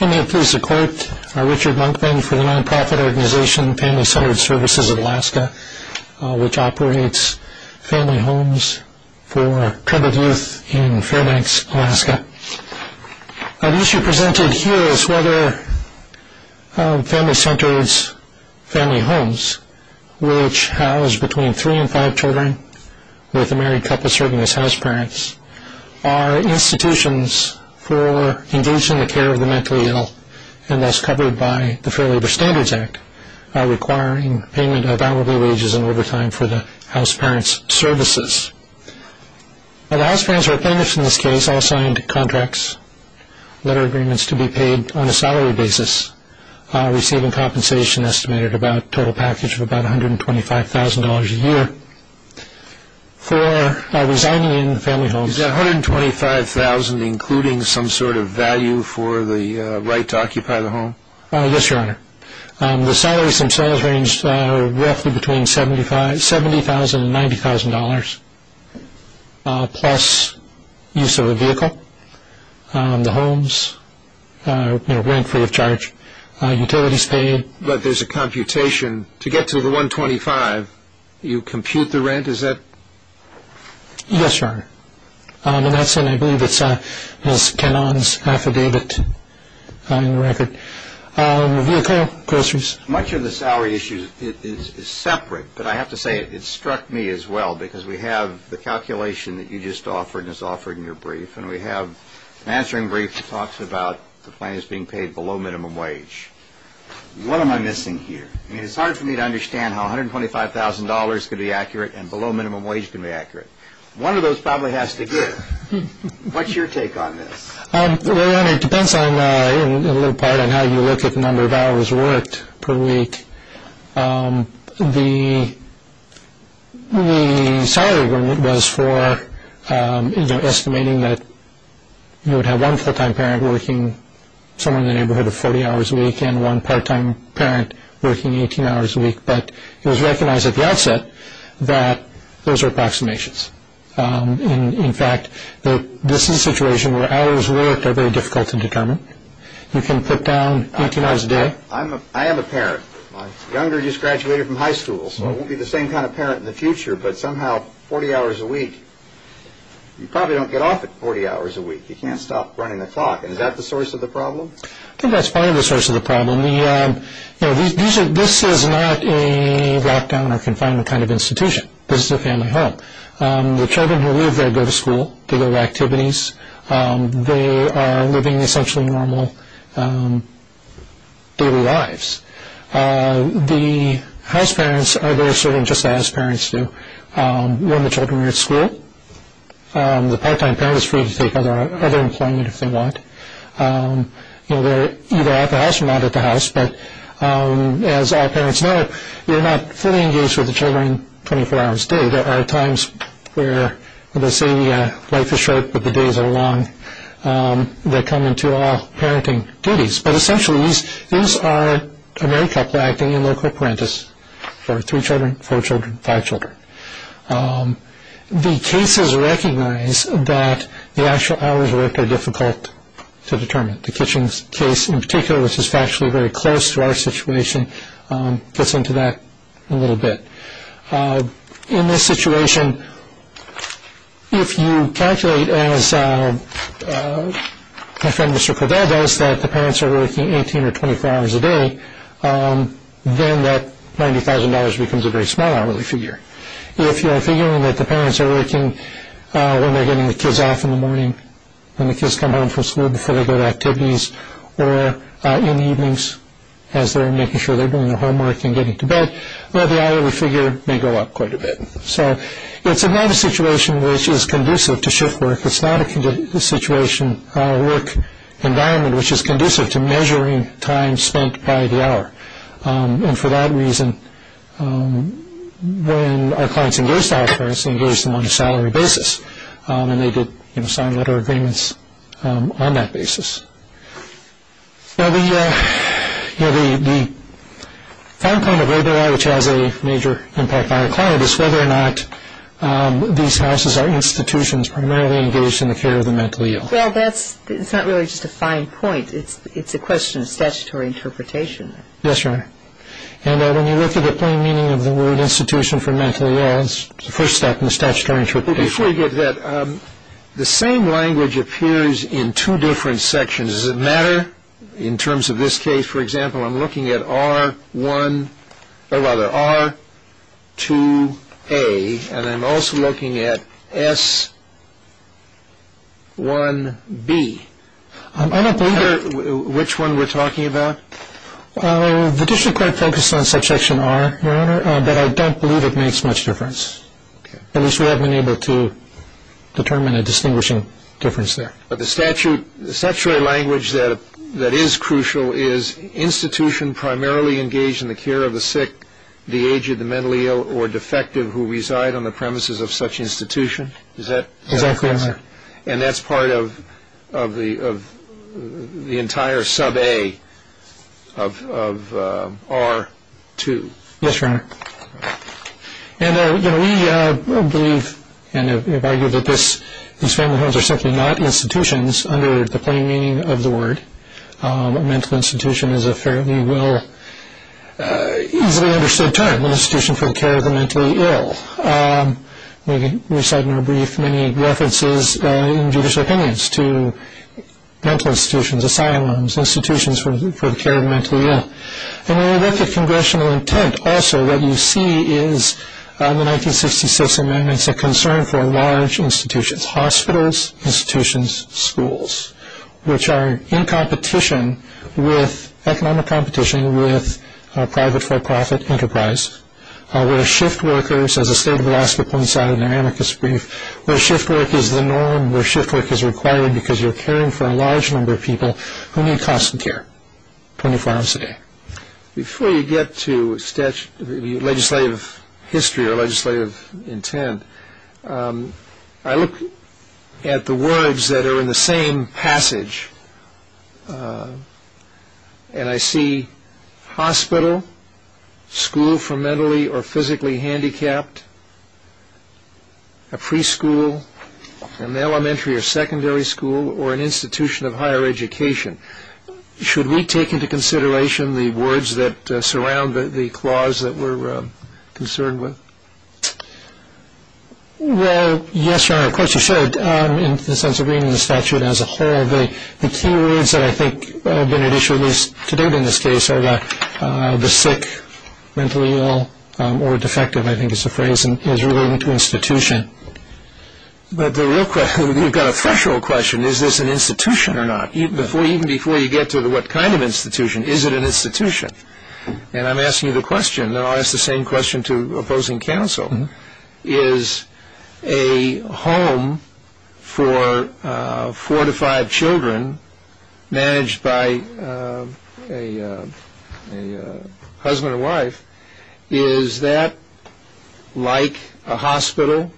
I am pleased to quote Richard Monkman for the non-profit organization Family Centered Services of Alaska, which operates family homes for troubled youth in Fairbanks, Alaska. The issue presented here is whether family centers, family homes, which house between three and five children with a married couple serving as house parents, are institutions for engaging in the care of the mentally ill, and thus covered by the Fair Labor Standards Act, requiring payment of hourly wages and overtime for the house parents' services. The house parents who are paying this in this case all signed contracts, letter agreements to be paid on a salary basis, receiving compensation estimated about a total package of about $125,000 a year. For resigning in family homes... Is that $125,000 including some sort of value for the right to occupy the home? Yes, Your Honor. The salaries themselves range roughly between $70,000 and $90,000, plus use of a vehicle, the homes, rent free of charge, utilities paid. But there's a computation. To get to the $125,000, you compute the rent. Is that...? Yes, Your Honor. And that's in, I believe, it's Kenan's affidavit on the record. The vehicle, groceries. Much of the salary issue is separate, but I have to say it struck me as well, because we have the calculation that you just offered and is offered in your brief, and we have an answering brief that talks about the plans being paid below minimum wage. What am I missing here? I mean, it's hard for me to understand how $125,000 can be accurate and below minimum wage can be accurate. One of those probably has to give. What's your take on this? Well, Your Honor, it depends on, in little part, on how you look at the number of hours worked per week. The salary agreement was for estimating that you would have one full-time parent working somewhere in the neighborhood of 40 hours a week and one part-time parent working 18 hours a week. But it was recognized at the outset that those are approximations. In fact, this is a situation where hours worked are very difficult to determine. You can put down 18 hours a day. I am a parent. My younger just graduated from high school, so I won't be the same kind of parent in the future, but somehow 40 hours a week, you probably don't get off at 40 hours a week. You can't stop running the clock. Is that the source of the problem? I think that's part of the source of the problem. This is not a lockdown or confinement kind of institution. This is a family home. The children who live there go to school, do their activities. They are living essentially normal daily lives. The house parents are there serving just as parents do when the children are at school. The part-time parent is free to take other employment if they want. They're either at the house or not at the house, but as all parents know, you're not fully engaged with the children 24 hours a day. There are times where they say life is short, but the days are long. They come into all parenting duties, but essentially these are a married couple acting in loco parentis for three children, four children, five children. The cases recognize that the actual hours worked are difficult to determine. The Kitchens case in particular, which is factually very close to our situation, gets into that a little bit. In this situation, if you calculate as my friend Mr. Cordell does, that the parents are working 18 or 24 hours a day, then that $90,000 becomes a very small hourly figure. If you are figuring that the parents are working when they're getting the kids off in the morning, when the kids come home from school before they go to activities, or in the evenings as they're making sure they're doing their homework and getting to bed, well, the hourly figure may go up quite a bit. So it's not a situation which is conducive to shift work. It's not a work environment which is conducive to measuring time spent by the hour, and for that reason when our clients engaged our parents, they engaged them on a salary basis, and they did sign letter agreements on that basis. Now the outcome of labor law, which has a major impact on our client, is whether or not these houses or institutions are primarily engaged in the care of the mentally ill. Well, that's not really just a fine point. It's a question of statutory interpretation. Yes, Your Honor. And when you look at the plain meaning of the word institution for mentally ill, it's the first step in the statutory interpretation. But before you get to that, the same language appears in two different sections. Does it matter in terms of this case? For example, I'm looking at R1, or rather R2A, and I'm also looking at S1B. I don't believe which one we're talking about. The district court focused on subsection R, Your Honor, but I don't believe it makes much difference. At least we haven't been able to determine a distinguishing difference there. But the statutory language that is crucial is institution primarily engaged in the care of the sick, the aged, the mentally ill, or defective who reside on the premises of such institution. Does that make sense? Exactly, Your Honor. And that's part of the entire sub-A of R2. Yes, Your Honor. And, you know, we believe and have argued that these family homes are simply not institutions under the plain meaning of the word. A mental institution is a fairly well, easily understood term, an institution for the care of the mentally ill. We cite in our brief many references in judicial opinions to mental institutions, asylums, institutions for the care of the mentally ill. And when we look at congressional intent, also what you see is the 1966 amendments a concern for large institutions, hospitals, institutions, schools, which are in competition with economic competition with private for-profit enterprise, where shift workers, as the state of Alaska points out in their amicus brief, where shift work is the norm, where shift work is required because you're caring for a large number of people who need constant care 24 hours a day. Before you get to legislative history or legislative intent, I look at the words that are in the same passage, and I see hospital, school for mentally or physically handicapped, a preschool, an elementary or secondary school, or an institution of higher education. Should we take into consideration the words that surround the clause that we're concerned with? Well, yes, Your Honor, of course you should, in the sense of reading the statute as a whole. The key words that I think have been at issue, at least to date in this case, are the sick, mentally ill, or defective, I think is the phrase, as relating to institution. But the real question, you've got a threshold question, is this an institution or not? Even before you get to what kind of institution, is it an institution? And I'm asking you the question, and I'll ask the same question to opposing counsel. Is a home for four to five children managed by a husband or wife, is that like a hospital,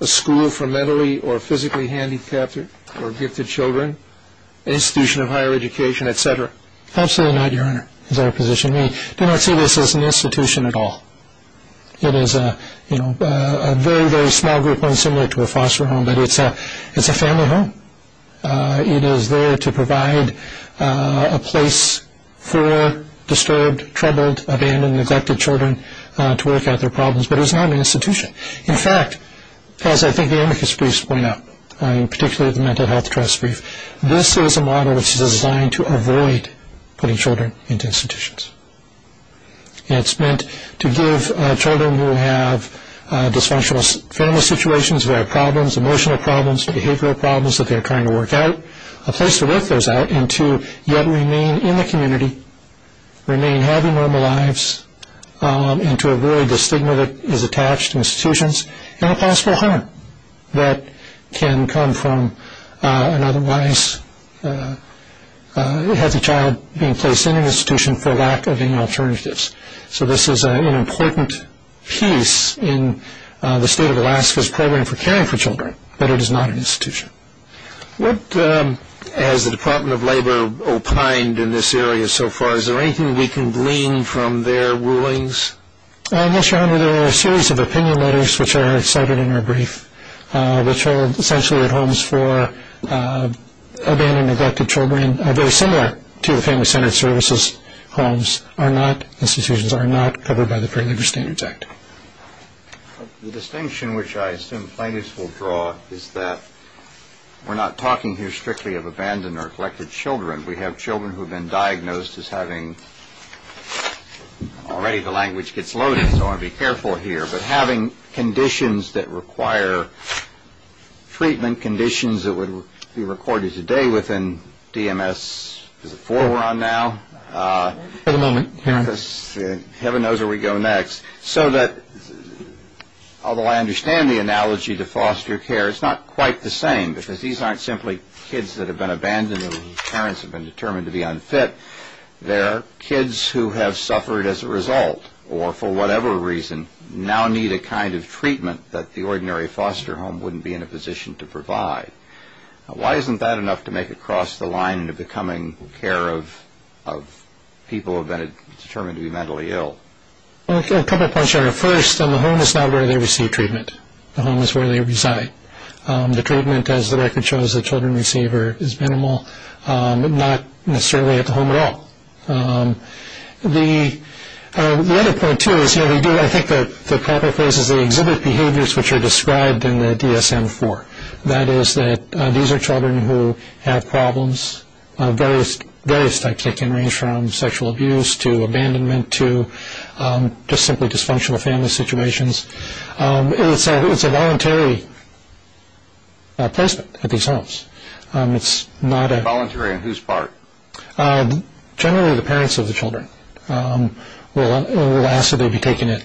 a school for mentally or physically handicapped or gifted children, an institution of higher education, et cetera? Absolutely not, Your Honor, is our position. We do not see this as an institution at all. It is a very, very small group, one similar to a foster home, but it's a family home. It is there to provide a place for disturbed, troubled, abandoned, neglected children to work out their problems, but it's not an institution. In fact, as I think the amicus briefs point out, particularly the Mental Health Trust brief, this is a model which is designed to avoid putting children into institutions. It's meant to give children who have dysfunctional family situations, who have problems, emotional problems, behavioral problems that they're trying to work out, a place to work those out and to yet remain in the community, remain having normal lives, and to avoid the stigma that is attached to institutions and the possible harm that can come from an otherwise heavy child being placed in an institution for lack of any alternatives. So this is an important piece in the state of Alaska's program for caring for children, but it is not an institution. What has the Department of Labor opined in this area so far? Is there anything we can glean from their rulings? Yes, Your Honor, there are a series of opinion letters which are cited in our brief which are essentially at homes for abandoned, neglected children and very similar to the Family Centered Services homes are not, institutions are not covered by the Fair Labor Standards Act. The distinction which I assume plaintiffs will draw is that we're not talking here strictly of abandoned or neglected children. We have children who have been diagnosed as having, already the language gets loaded, so I want to be careful here, but having conditions that require treatment, conditions that would be recorded today within DMS, is it four we're on now? For the moment, Your Honor. Heaven knows where we go next. So that although I understand the analogy to foster care, it's not quite the same because these aren't simply kids that have been abandoned or whose parents have been determined to be unfit. They're kids who have suffered as a result or for whatever reason now need a kind of treatment that the ordinary foster home wouldn't be in a position to provide. Why isn't that enough to make it cross the line into becoming care of people who have been determined to be mentally ill? A couple of points, Your Honor. First, the home is not where they receive treatment. The home is where they reside. The treatment, as the record shows, the children receiver is minimal, not necessarily at the home at all. The other point, too, is here we do, I think the proper phrase is they exhibit behaviors which are described in the DSM-IV. That is that these are children who have problems of various types. They can range from sexual abuse to abandonment to just simply dysfunctional family situations. It's a voluntary placement at these homes. It's not a... Voluntary on whose part? Generally the parents of the children. We'll ask that they be taken in.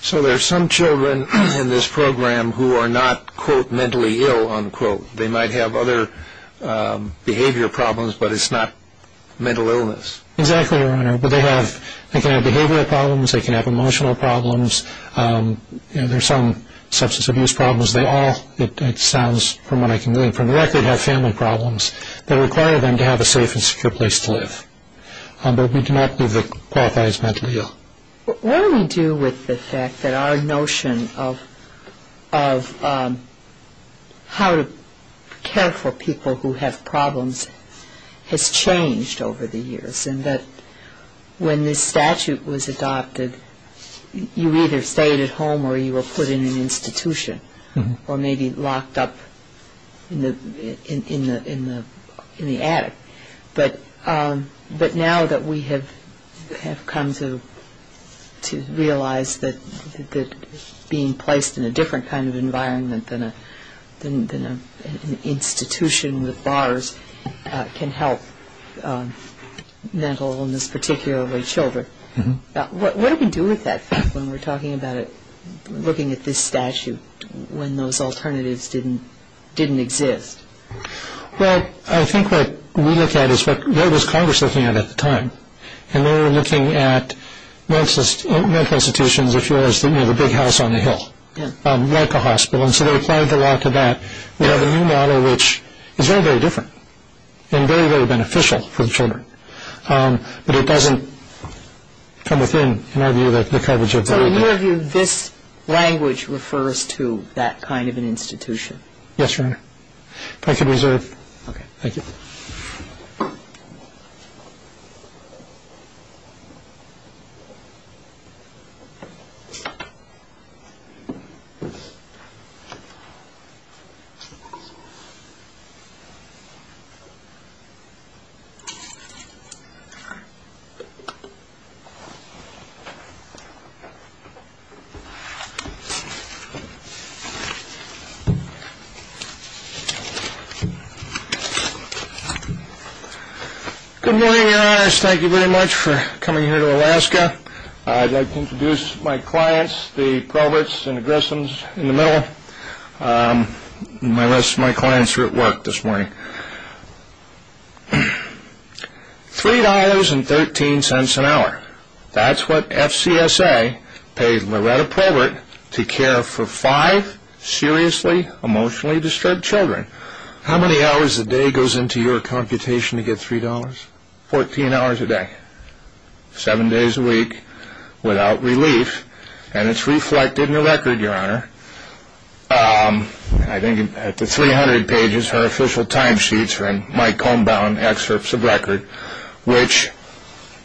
So there are some children in this program who are not, quote, mentally ill, unquote. They might have other behavior problems, but it's not mental illness. Exactly, Your Honor. They can have behavioral problems. They can have emotional problems. There are some substance abuse problems. They all, it sounds from what I can read from the record, have family problems that require them to have a safe and secure place to live. But we do not believe they qualify as mentally ill. What do we do with the fact that our notion of how to care for people who have problems has changed over the years and that when this statute was adopted, you either stayed at home or you were put in an institution or maybe locked up in the attic. But now that we have come to realize that being placed in a different kind of environment than an institution with bars can help mental illness, particularly children, what do we do with that fact when we're talking about it, looking at this statute, when those alternatives didn't exist? Well, I think what we look at is what was Congress looking at at the time, and they were looking at mental institutions, if you will, as the big house on the hill, like a hospital, and so they applied the law to that. We have a new model which is very, very different and very, very beneficial for the children, but it doesn't come within, in our view, the coverage of the old model. So in your view, this language refers to that kind of an institution? Yes, Your Honor. If I could reserve. Okay. Thank you. Thank you. Good morning, Your Honors. Thank you very much for coming here to Alaska. I'd like to introduce my clients, the Proberts and Grissoms in the middle. My clients are at work this morning. $3.13 an hour, that's what FCSA paid Loretta Probert to care for five seriously, emotionally disturbed children. How many hours a day goes into your computation to get $3? Fourteen hours a day. Seven days a week without relief, and it's reflected in the record, Your Honor. I think at the 300 pages are official time sheets from Mike Holmbaum excerpts of record, which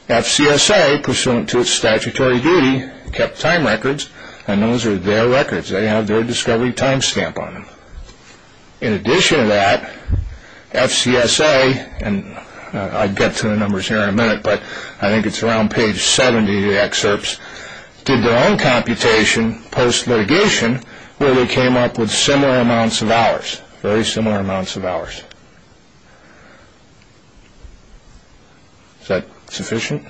FCSA, pursuant to its statutory duty, kept time records, and those are their records. They have their discovery time stamp on them. In addition to that, FCSA, and I'll get to the numbers here in a minute, but I think it's around page 70 of the excerpts, did their own computation post-litigation where they came up with similar amounts of hours, very similar amounts of hours. Is that sufficient?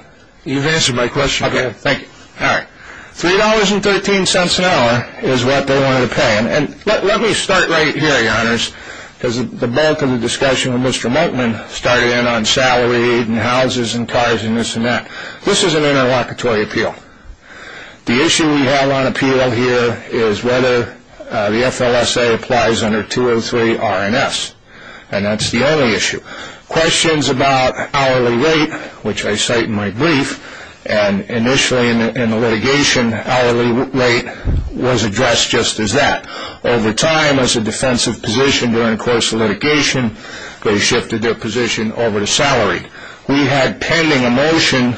You've answered my question. Okay, thank you. All right. $3.13 an hour is what they wanted to pay. And let me start right here, Your Honors, because the bulk of the discussion with Mr. Moteman started in on salary, and houses, and cars, and this and that. This is an interlocutory appeal. The issue we have on appeal here is whether the FLSA applies under 203 R&S, and that's the only issue. Questions about hourly rate, which I cite in my brief, and initially in the litigation hourly rate was addressed just as that. Over time, as a defensive position during the course of litigation, they shifted their position over to salary. We had pending a motion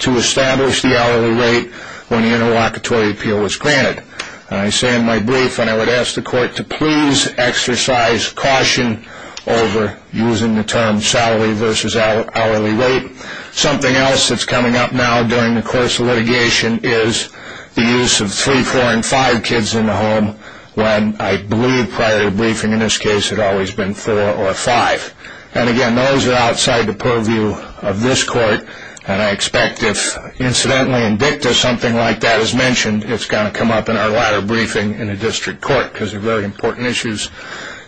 to establish the hourly rate when the interlocutory appeal was granted. I say in my brief, and I would ask the court to please exercise caution over using the term salary versus hourly rate. Something else that's coming up now during the course of litigation is the use of three, four, and five kids in the home when I believe prior to the briefing in this case it had always been four or five. And, again, those are outside the purview of this court, and I expect if incidentally indicative of something like that is mentioned, it's going to come up in our latter briefing in the district court because they're very important issues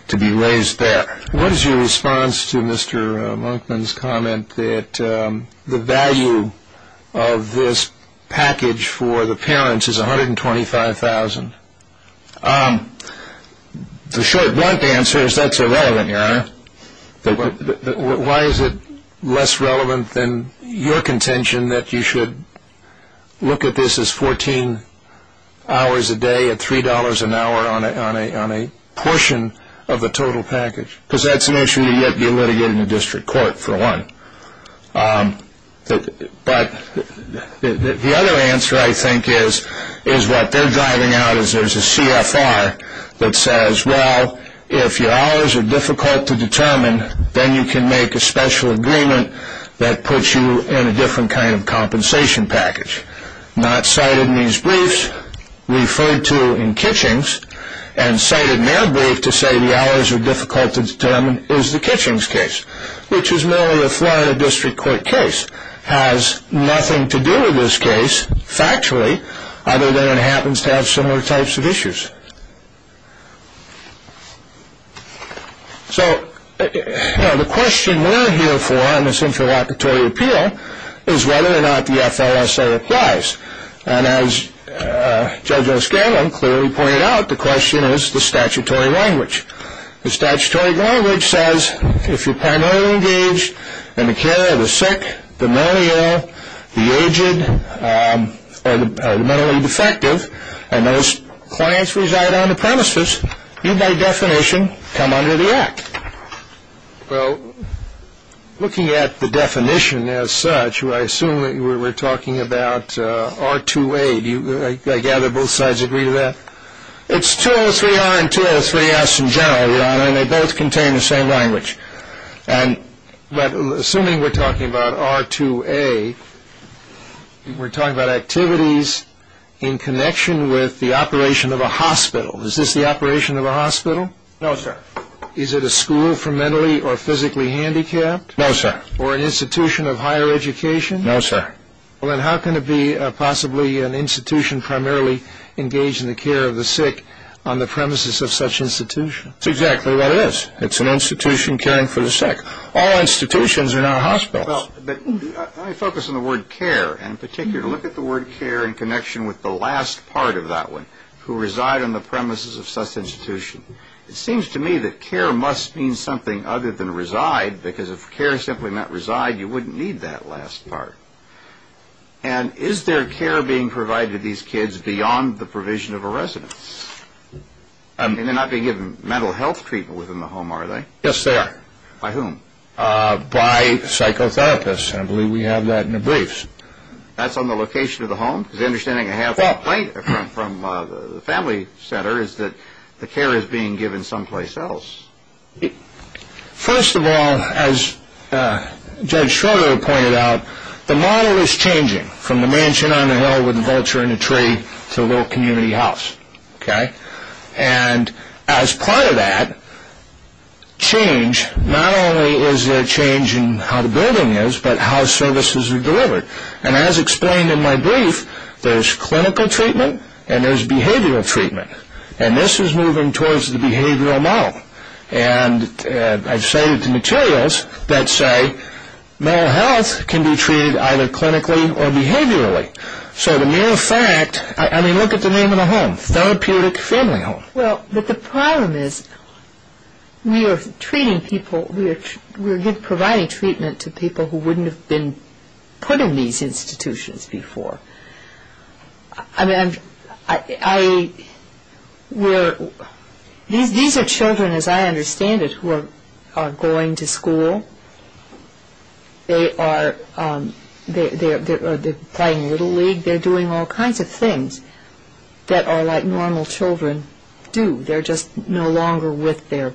to be raised there. What is your response to Mr. Monkman's comment that the value of this package for the parents is $125,000? The short, blunt answer is that's irrelevant, Your Honor. Why is it less relevant than your contention that you should look at this as 14 hours a day at $3 an hour on a portion of the total package? Because that's an issue to yet be litigated in the district court, for one. But the other answer, I think, is what they're diving out is there's a CFR that says, well, if your hours are difficult to determine, then you can make a special agreement that puts you in a different kind of compensation package. Not cited in these briefs, referred to in Kitching's, and cited in their brief to say the hours are difficult to determine is the Kitching's case, which is merely a Florida district court case. It has nothing to do with this case, factually, other than it happens to have similar types of issues. So the question we're here for in this interlocutory appeal is whether or not the FLSA applies. And as Judge O'Scanlon clearly pointed out, the question is the statutory language. The statutory language says if you're primarily engaged in the care of the sick, the malnourished, the aged, or the mentally defective, and those clients reside on the premises, you by definition come under the act. Well, looking at the definition as such, I assume that we're talking about R2A. Do I gather both sides agree to that? It's 203R and 203S in general, Your Honor, and they both contain the same language. But assuming we're talking about R2A, we're talking about activities in connection with the operation of a hospital. Is this the operation of a hospital? No, sir. Is it a school for mentally or physically handicapped? No, sir. Or an institution of higher education? No, sir. Well, then how can it be possibly an institution primarily engaged in the care of the sick on the premises of such institutions? That's exactly what it is. It's an institution caring for the sick. All institutions are not hospitals. But let me focus on the word care in particular. Look at the word care in connection with the last part of that one, who reside on the premises of such institutions. It seems to me that care must mean something other than reside, because if care simply meant reside, you wouldn't need that last part. And is there care being provided to these kids beyond the provision of a residence? And they're not being given mental health treatment within the home, are they? Yes, they are. By whom? By psychotherapists, and I believe we have that in the briefs. That's on the location of the home? Because the understanding I have from the family center is that the care is being given someplace else. First of all, as Judge Schroeder pointed out, the model is changing from the mansion on a hill with a vulture and a tree to a little community house. And as part of that change, not only is there a change in how the building is, but how services are delivered. And as explained in my brief, there's clinical treatment and there's behavioral treatment. And this is moving towards the behavioral model. And I've cited the materials that say mental health can be treated either clinically or behaviorally. So the mere fact, I mean, look at the name of the home, Therapeutic Family Home. Well, but the problem is we are treating people, we're providing treatment to people who wouldn't have been put in these institutions before. I mean, these are children, as I understand it, who are going to school. They're playing Little League. They're doing all kinds of things that are like normal children do. They're just no longer with their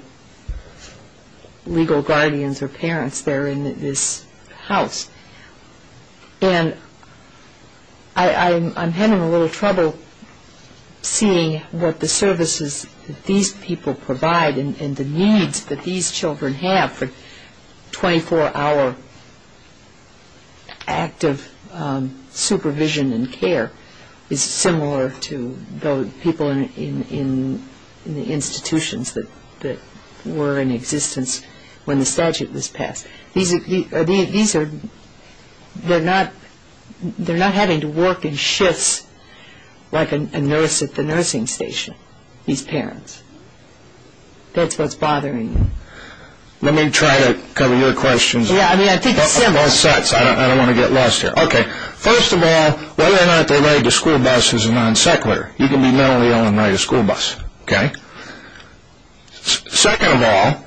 legal guardians or parents. They're in this house. And I'm having a little trouble seeing what the services that these people provide and the needs that these children have for 24-hour active supervision and care is similar to the people in the institutions that were in existence when the statute was passed. These are, they're not having to work in shifts like a nurse at the nursing station, these parents. That's what's bothering me. Let me try to cover your questions. Yeah, I mean, I think it's simple. Both sets, I don't want to get lost here. Okay, first of all, whether or not they ride the school bus is a non-secular. You can be mentally ill and ride a school bus, okay? Second of all,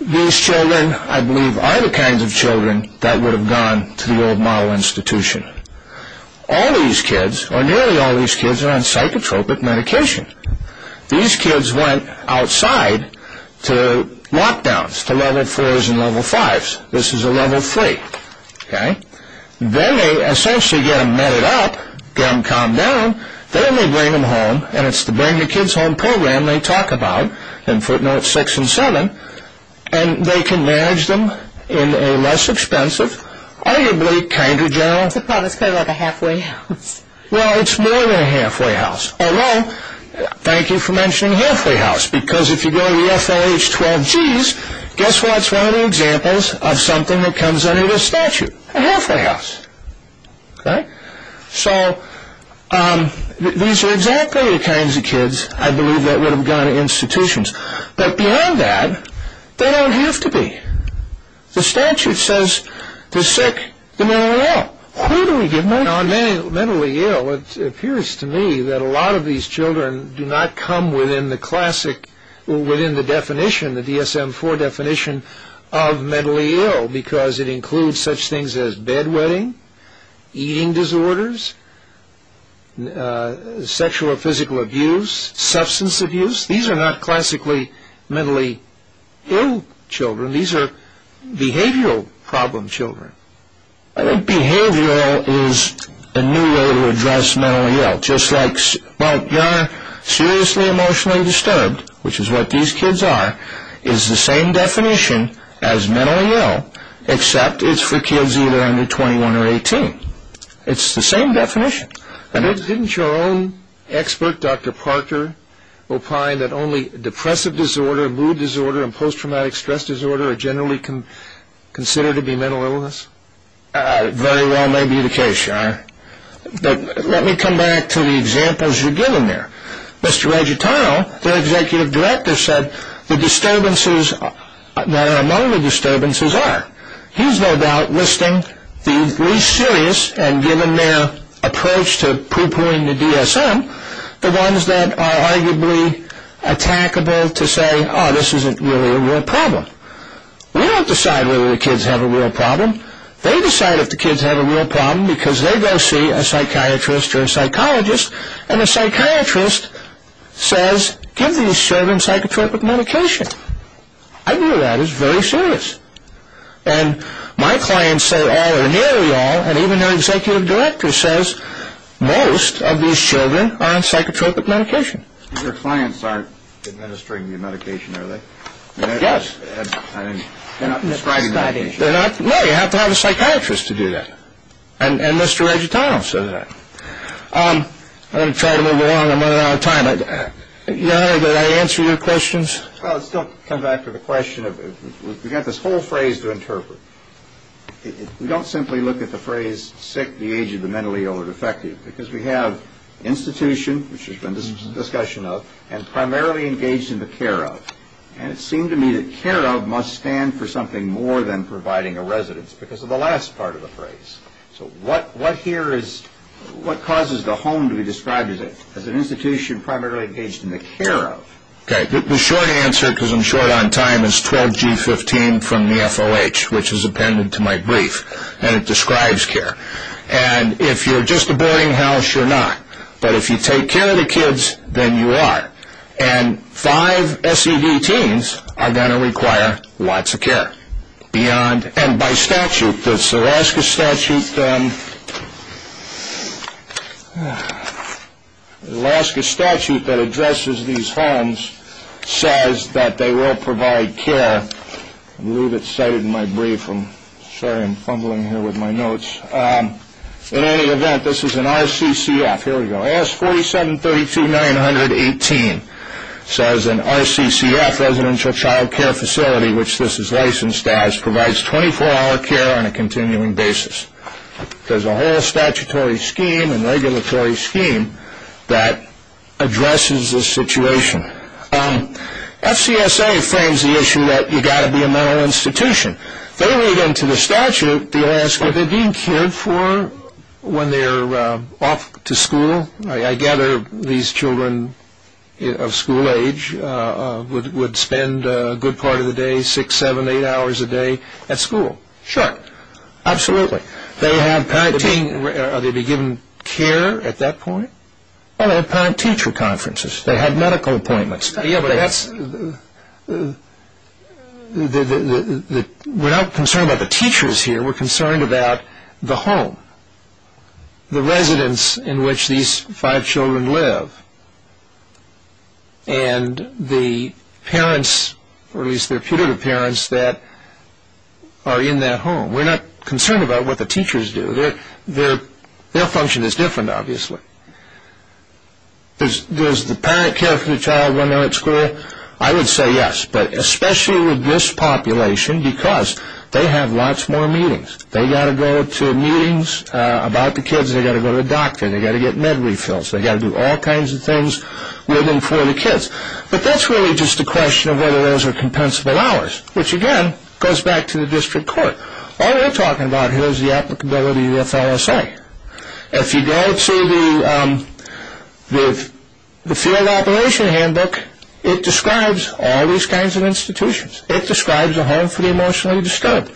these children, I believe, are the kinds of children that would have gone to the old model institution. All these kids, or nearly all these kids, are on psychotropic medication. These kids went outside to lockdowns, to level 4s and level 5s. This is a level 3, okay? Then they essentially get them medded up, get them calmed down. Then they bring them home, and it's the bring-the-kids-home program they talk about in footnotes 6 and 7, and they can manage them in a less expensive, arguably kinder, general... It's a problem, it's kind of like a halfway house. Well, it's more than a halfway house. Although, thank you for mentioning a halfway house, because if you go to the FLH12Gs, guess what's one of the examples of something that comes under the statute? A halfway house, okay? So these are exactly the kinds of kids, I believe, that would have gone to institutions. But beyond that, they don't have to be. The statute says the sick, the mentally ill. Who do we give money to? Mentally ill, it appears to me that a lot of these children do not come within the classic, within the definition, the DSM-IV definition of mentally ill, because it includes such things as bedwetting, eating disorders, sexual or physical abuse, substance abuse. These are not classically mentally ill children. These are behavioral problem children. I think behavioral is a new way to address mentally ill. Just like, well, you're seriously emotionally disturbed, which is what these kids are, is the same definition as mentally ill, except it's for kids either under 21 or 18. It's the same definition. Didn't your own expert, Dr. Parker, opine that only depressive disorder, mood disorder, and post-traumatic stress disorder are generally considered to be mental illness? Very well may be the case. But let me come back to the examples you've given there. Mr. Reggietono, their executive director, said the disturbances that are among the disturbances are. He's no doubt listing the least serious, and given their approach to pre-pointing the DSM, the ones that are arguably attackable to say, oh, this isn't really a real problem. We don't decide whether the kids have a real problem. They decide if the kids have a real problem because they go see a psychiatrist or a psychologist, and the psychiatrist says, give these children psychotropic medication. I knew that. It was very serious. And my clients say all or nearly all, and even their executive director says, most of these children are on psychotropic medication. Your clients aren't administering the medication, are they? Yes. They're not prescribing medication. No, you have to have a psychiatrist to do that. And Mr. Reggietono said that. I'm going to try to move along. I'm running out of time. John, did I answer your questions? Well, let's still come back to the question of we've got this whole phrase to interpret. We don't simply look at the phrase sick at the age of the mentally ill or defective because we have institution, which has been a discussion of, and primarily engaged in the care of. And it seemed to me that care of must stand for something more than providing a residence because of the last part of the phrase. So what causes the home to be described as an institution primarily engaged in the care of? The short answer, because I'm short on time, is 12G15 from the FOH, which is appended to my brief, and it describes care. And if you're just a boarding house, you're not. But if you take care of the kids, then you are. And five SED teens are going to require lots of care. And by statute, this Alaska statute that addresses these homes says that they will provide care. I believe it's cited in my brief. Sorry, I'm fumbling here with my notes. In any event, this is an RCCF. Here we go. AS 4732-918 says an RCCF, Residential Child Care Facility, which this is licensed as, provides 24-hour care on a continuing basis. There's a whole statutory scheme and regulatory scheme that addresses this situation. FCSA frames the issue that you've got to be a mental institution. They read into the statute, they ask, are they being cared for when they're off to school? I gather these children of school age would spend a good part of the day, six, seven, eight hours a day at school. Sure, absolutely. Are they being given care at that point? They have parent-teacher conferences. They have medical appointments. We're not concerned about the teachers here. We're concerned about the home, the residence in which these five children live, and the parents, or at least their putative parents that are in that home. We're not concerned about what the teachers do. Their function is different, obviously. Does the parent care for the child when they're at school? I would say yes, but especially with this population, because they have lots more meetings. They've got to go to meetings about the kids. They've got to go to the doctor. They've got to get med refills. They've got to do all kinds of things with and for the kids. But that's really just a question of whether those are compensable hours, which, again, goes back to the district court. All we're talking about here is the applicability of the FLSA. If you go to the field operation handbook, it describes all these kinds of institutions. It describes a home for the emotionally disturbed,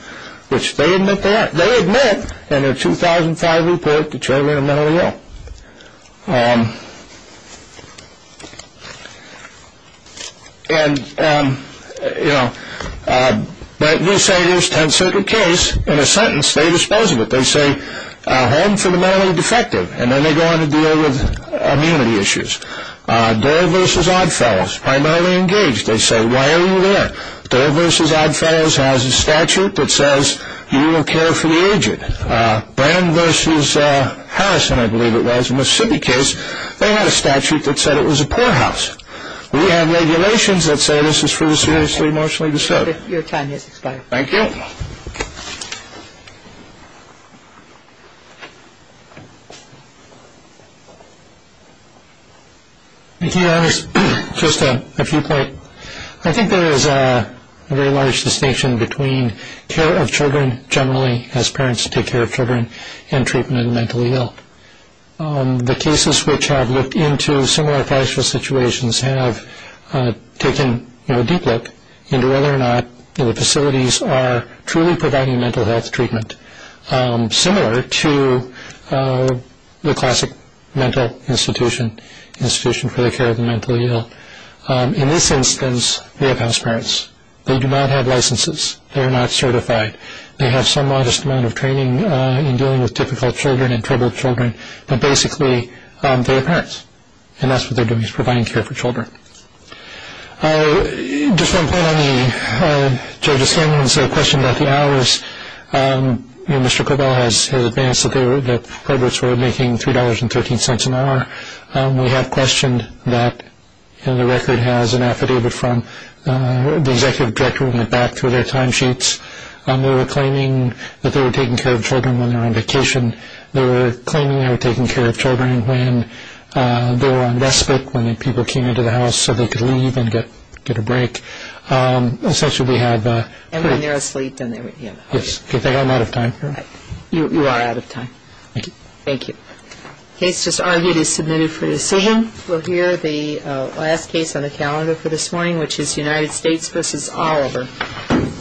which they admit they are. They admit in their 2005 report, the children are mentally ill. But you say there's a 10th Circuit case. In a sentence, they dispose of it. They say home for the mentally defective, and then they go on to deal with immunity issues. Doerr v. Oddfellows, primarily engaged, they say, why are you there? Doerr v. Oddfellows has a statute that says you will care for the aged. Brand v. Harrison, I believe it was, Mississippi case, they had a statute that said it was a poorhouse. We have regulations that say this is for the seriously emotionally disturbed. Your time has expired. Thank you. Thank you. Just a few points. I think there is a very large distinction between care of children generally, as parents take care of children, and treatment of the mentally ill. The cases which have looked into similar financial situations have taken a deep look into whether or not the facilities are truly providing mental health treatment, similar to the classic mental institution for the care of the mentally ill. In this instance, we have house parents. They do not have licenses. They are not certified. They have some modest amount of training in dealing with difficult children and troubled children, but basically they are parents, and that's what they're doing is providing care for children. Just one point on the Judge O'Shaughnessy's question about the hours. Mr. Cobell has advanced that the projects were making $3.13 an hour. We have questioned that, and the record has an affidavit from the executive director, we went back through their timesheets. They were claiming that they were taking care of children when they were on vacation. They were claiming they were taking care of children when they were on respite, when people came into the house so they could leave and get a break. Essentially, we have- And when they're asleep. Yes. I think I'm out of time. You are out of time. Thank you. Thank you. The case just argued is submitted for decision. We'll hear the last case on the calendar for this morning, which is United States v. Oliver. Thank you. Thank you.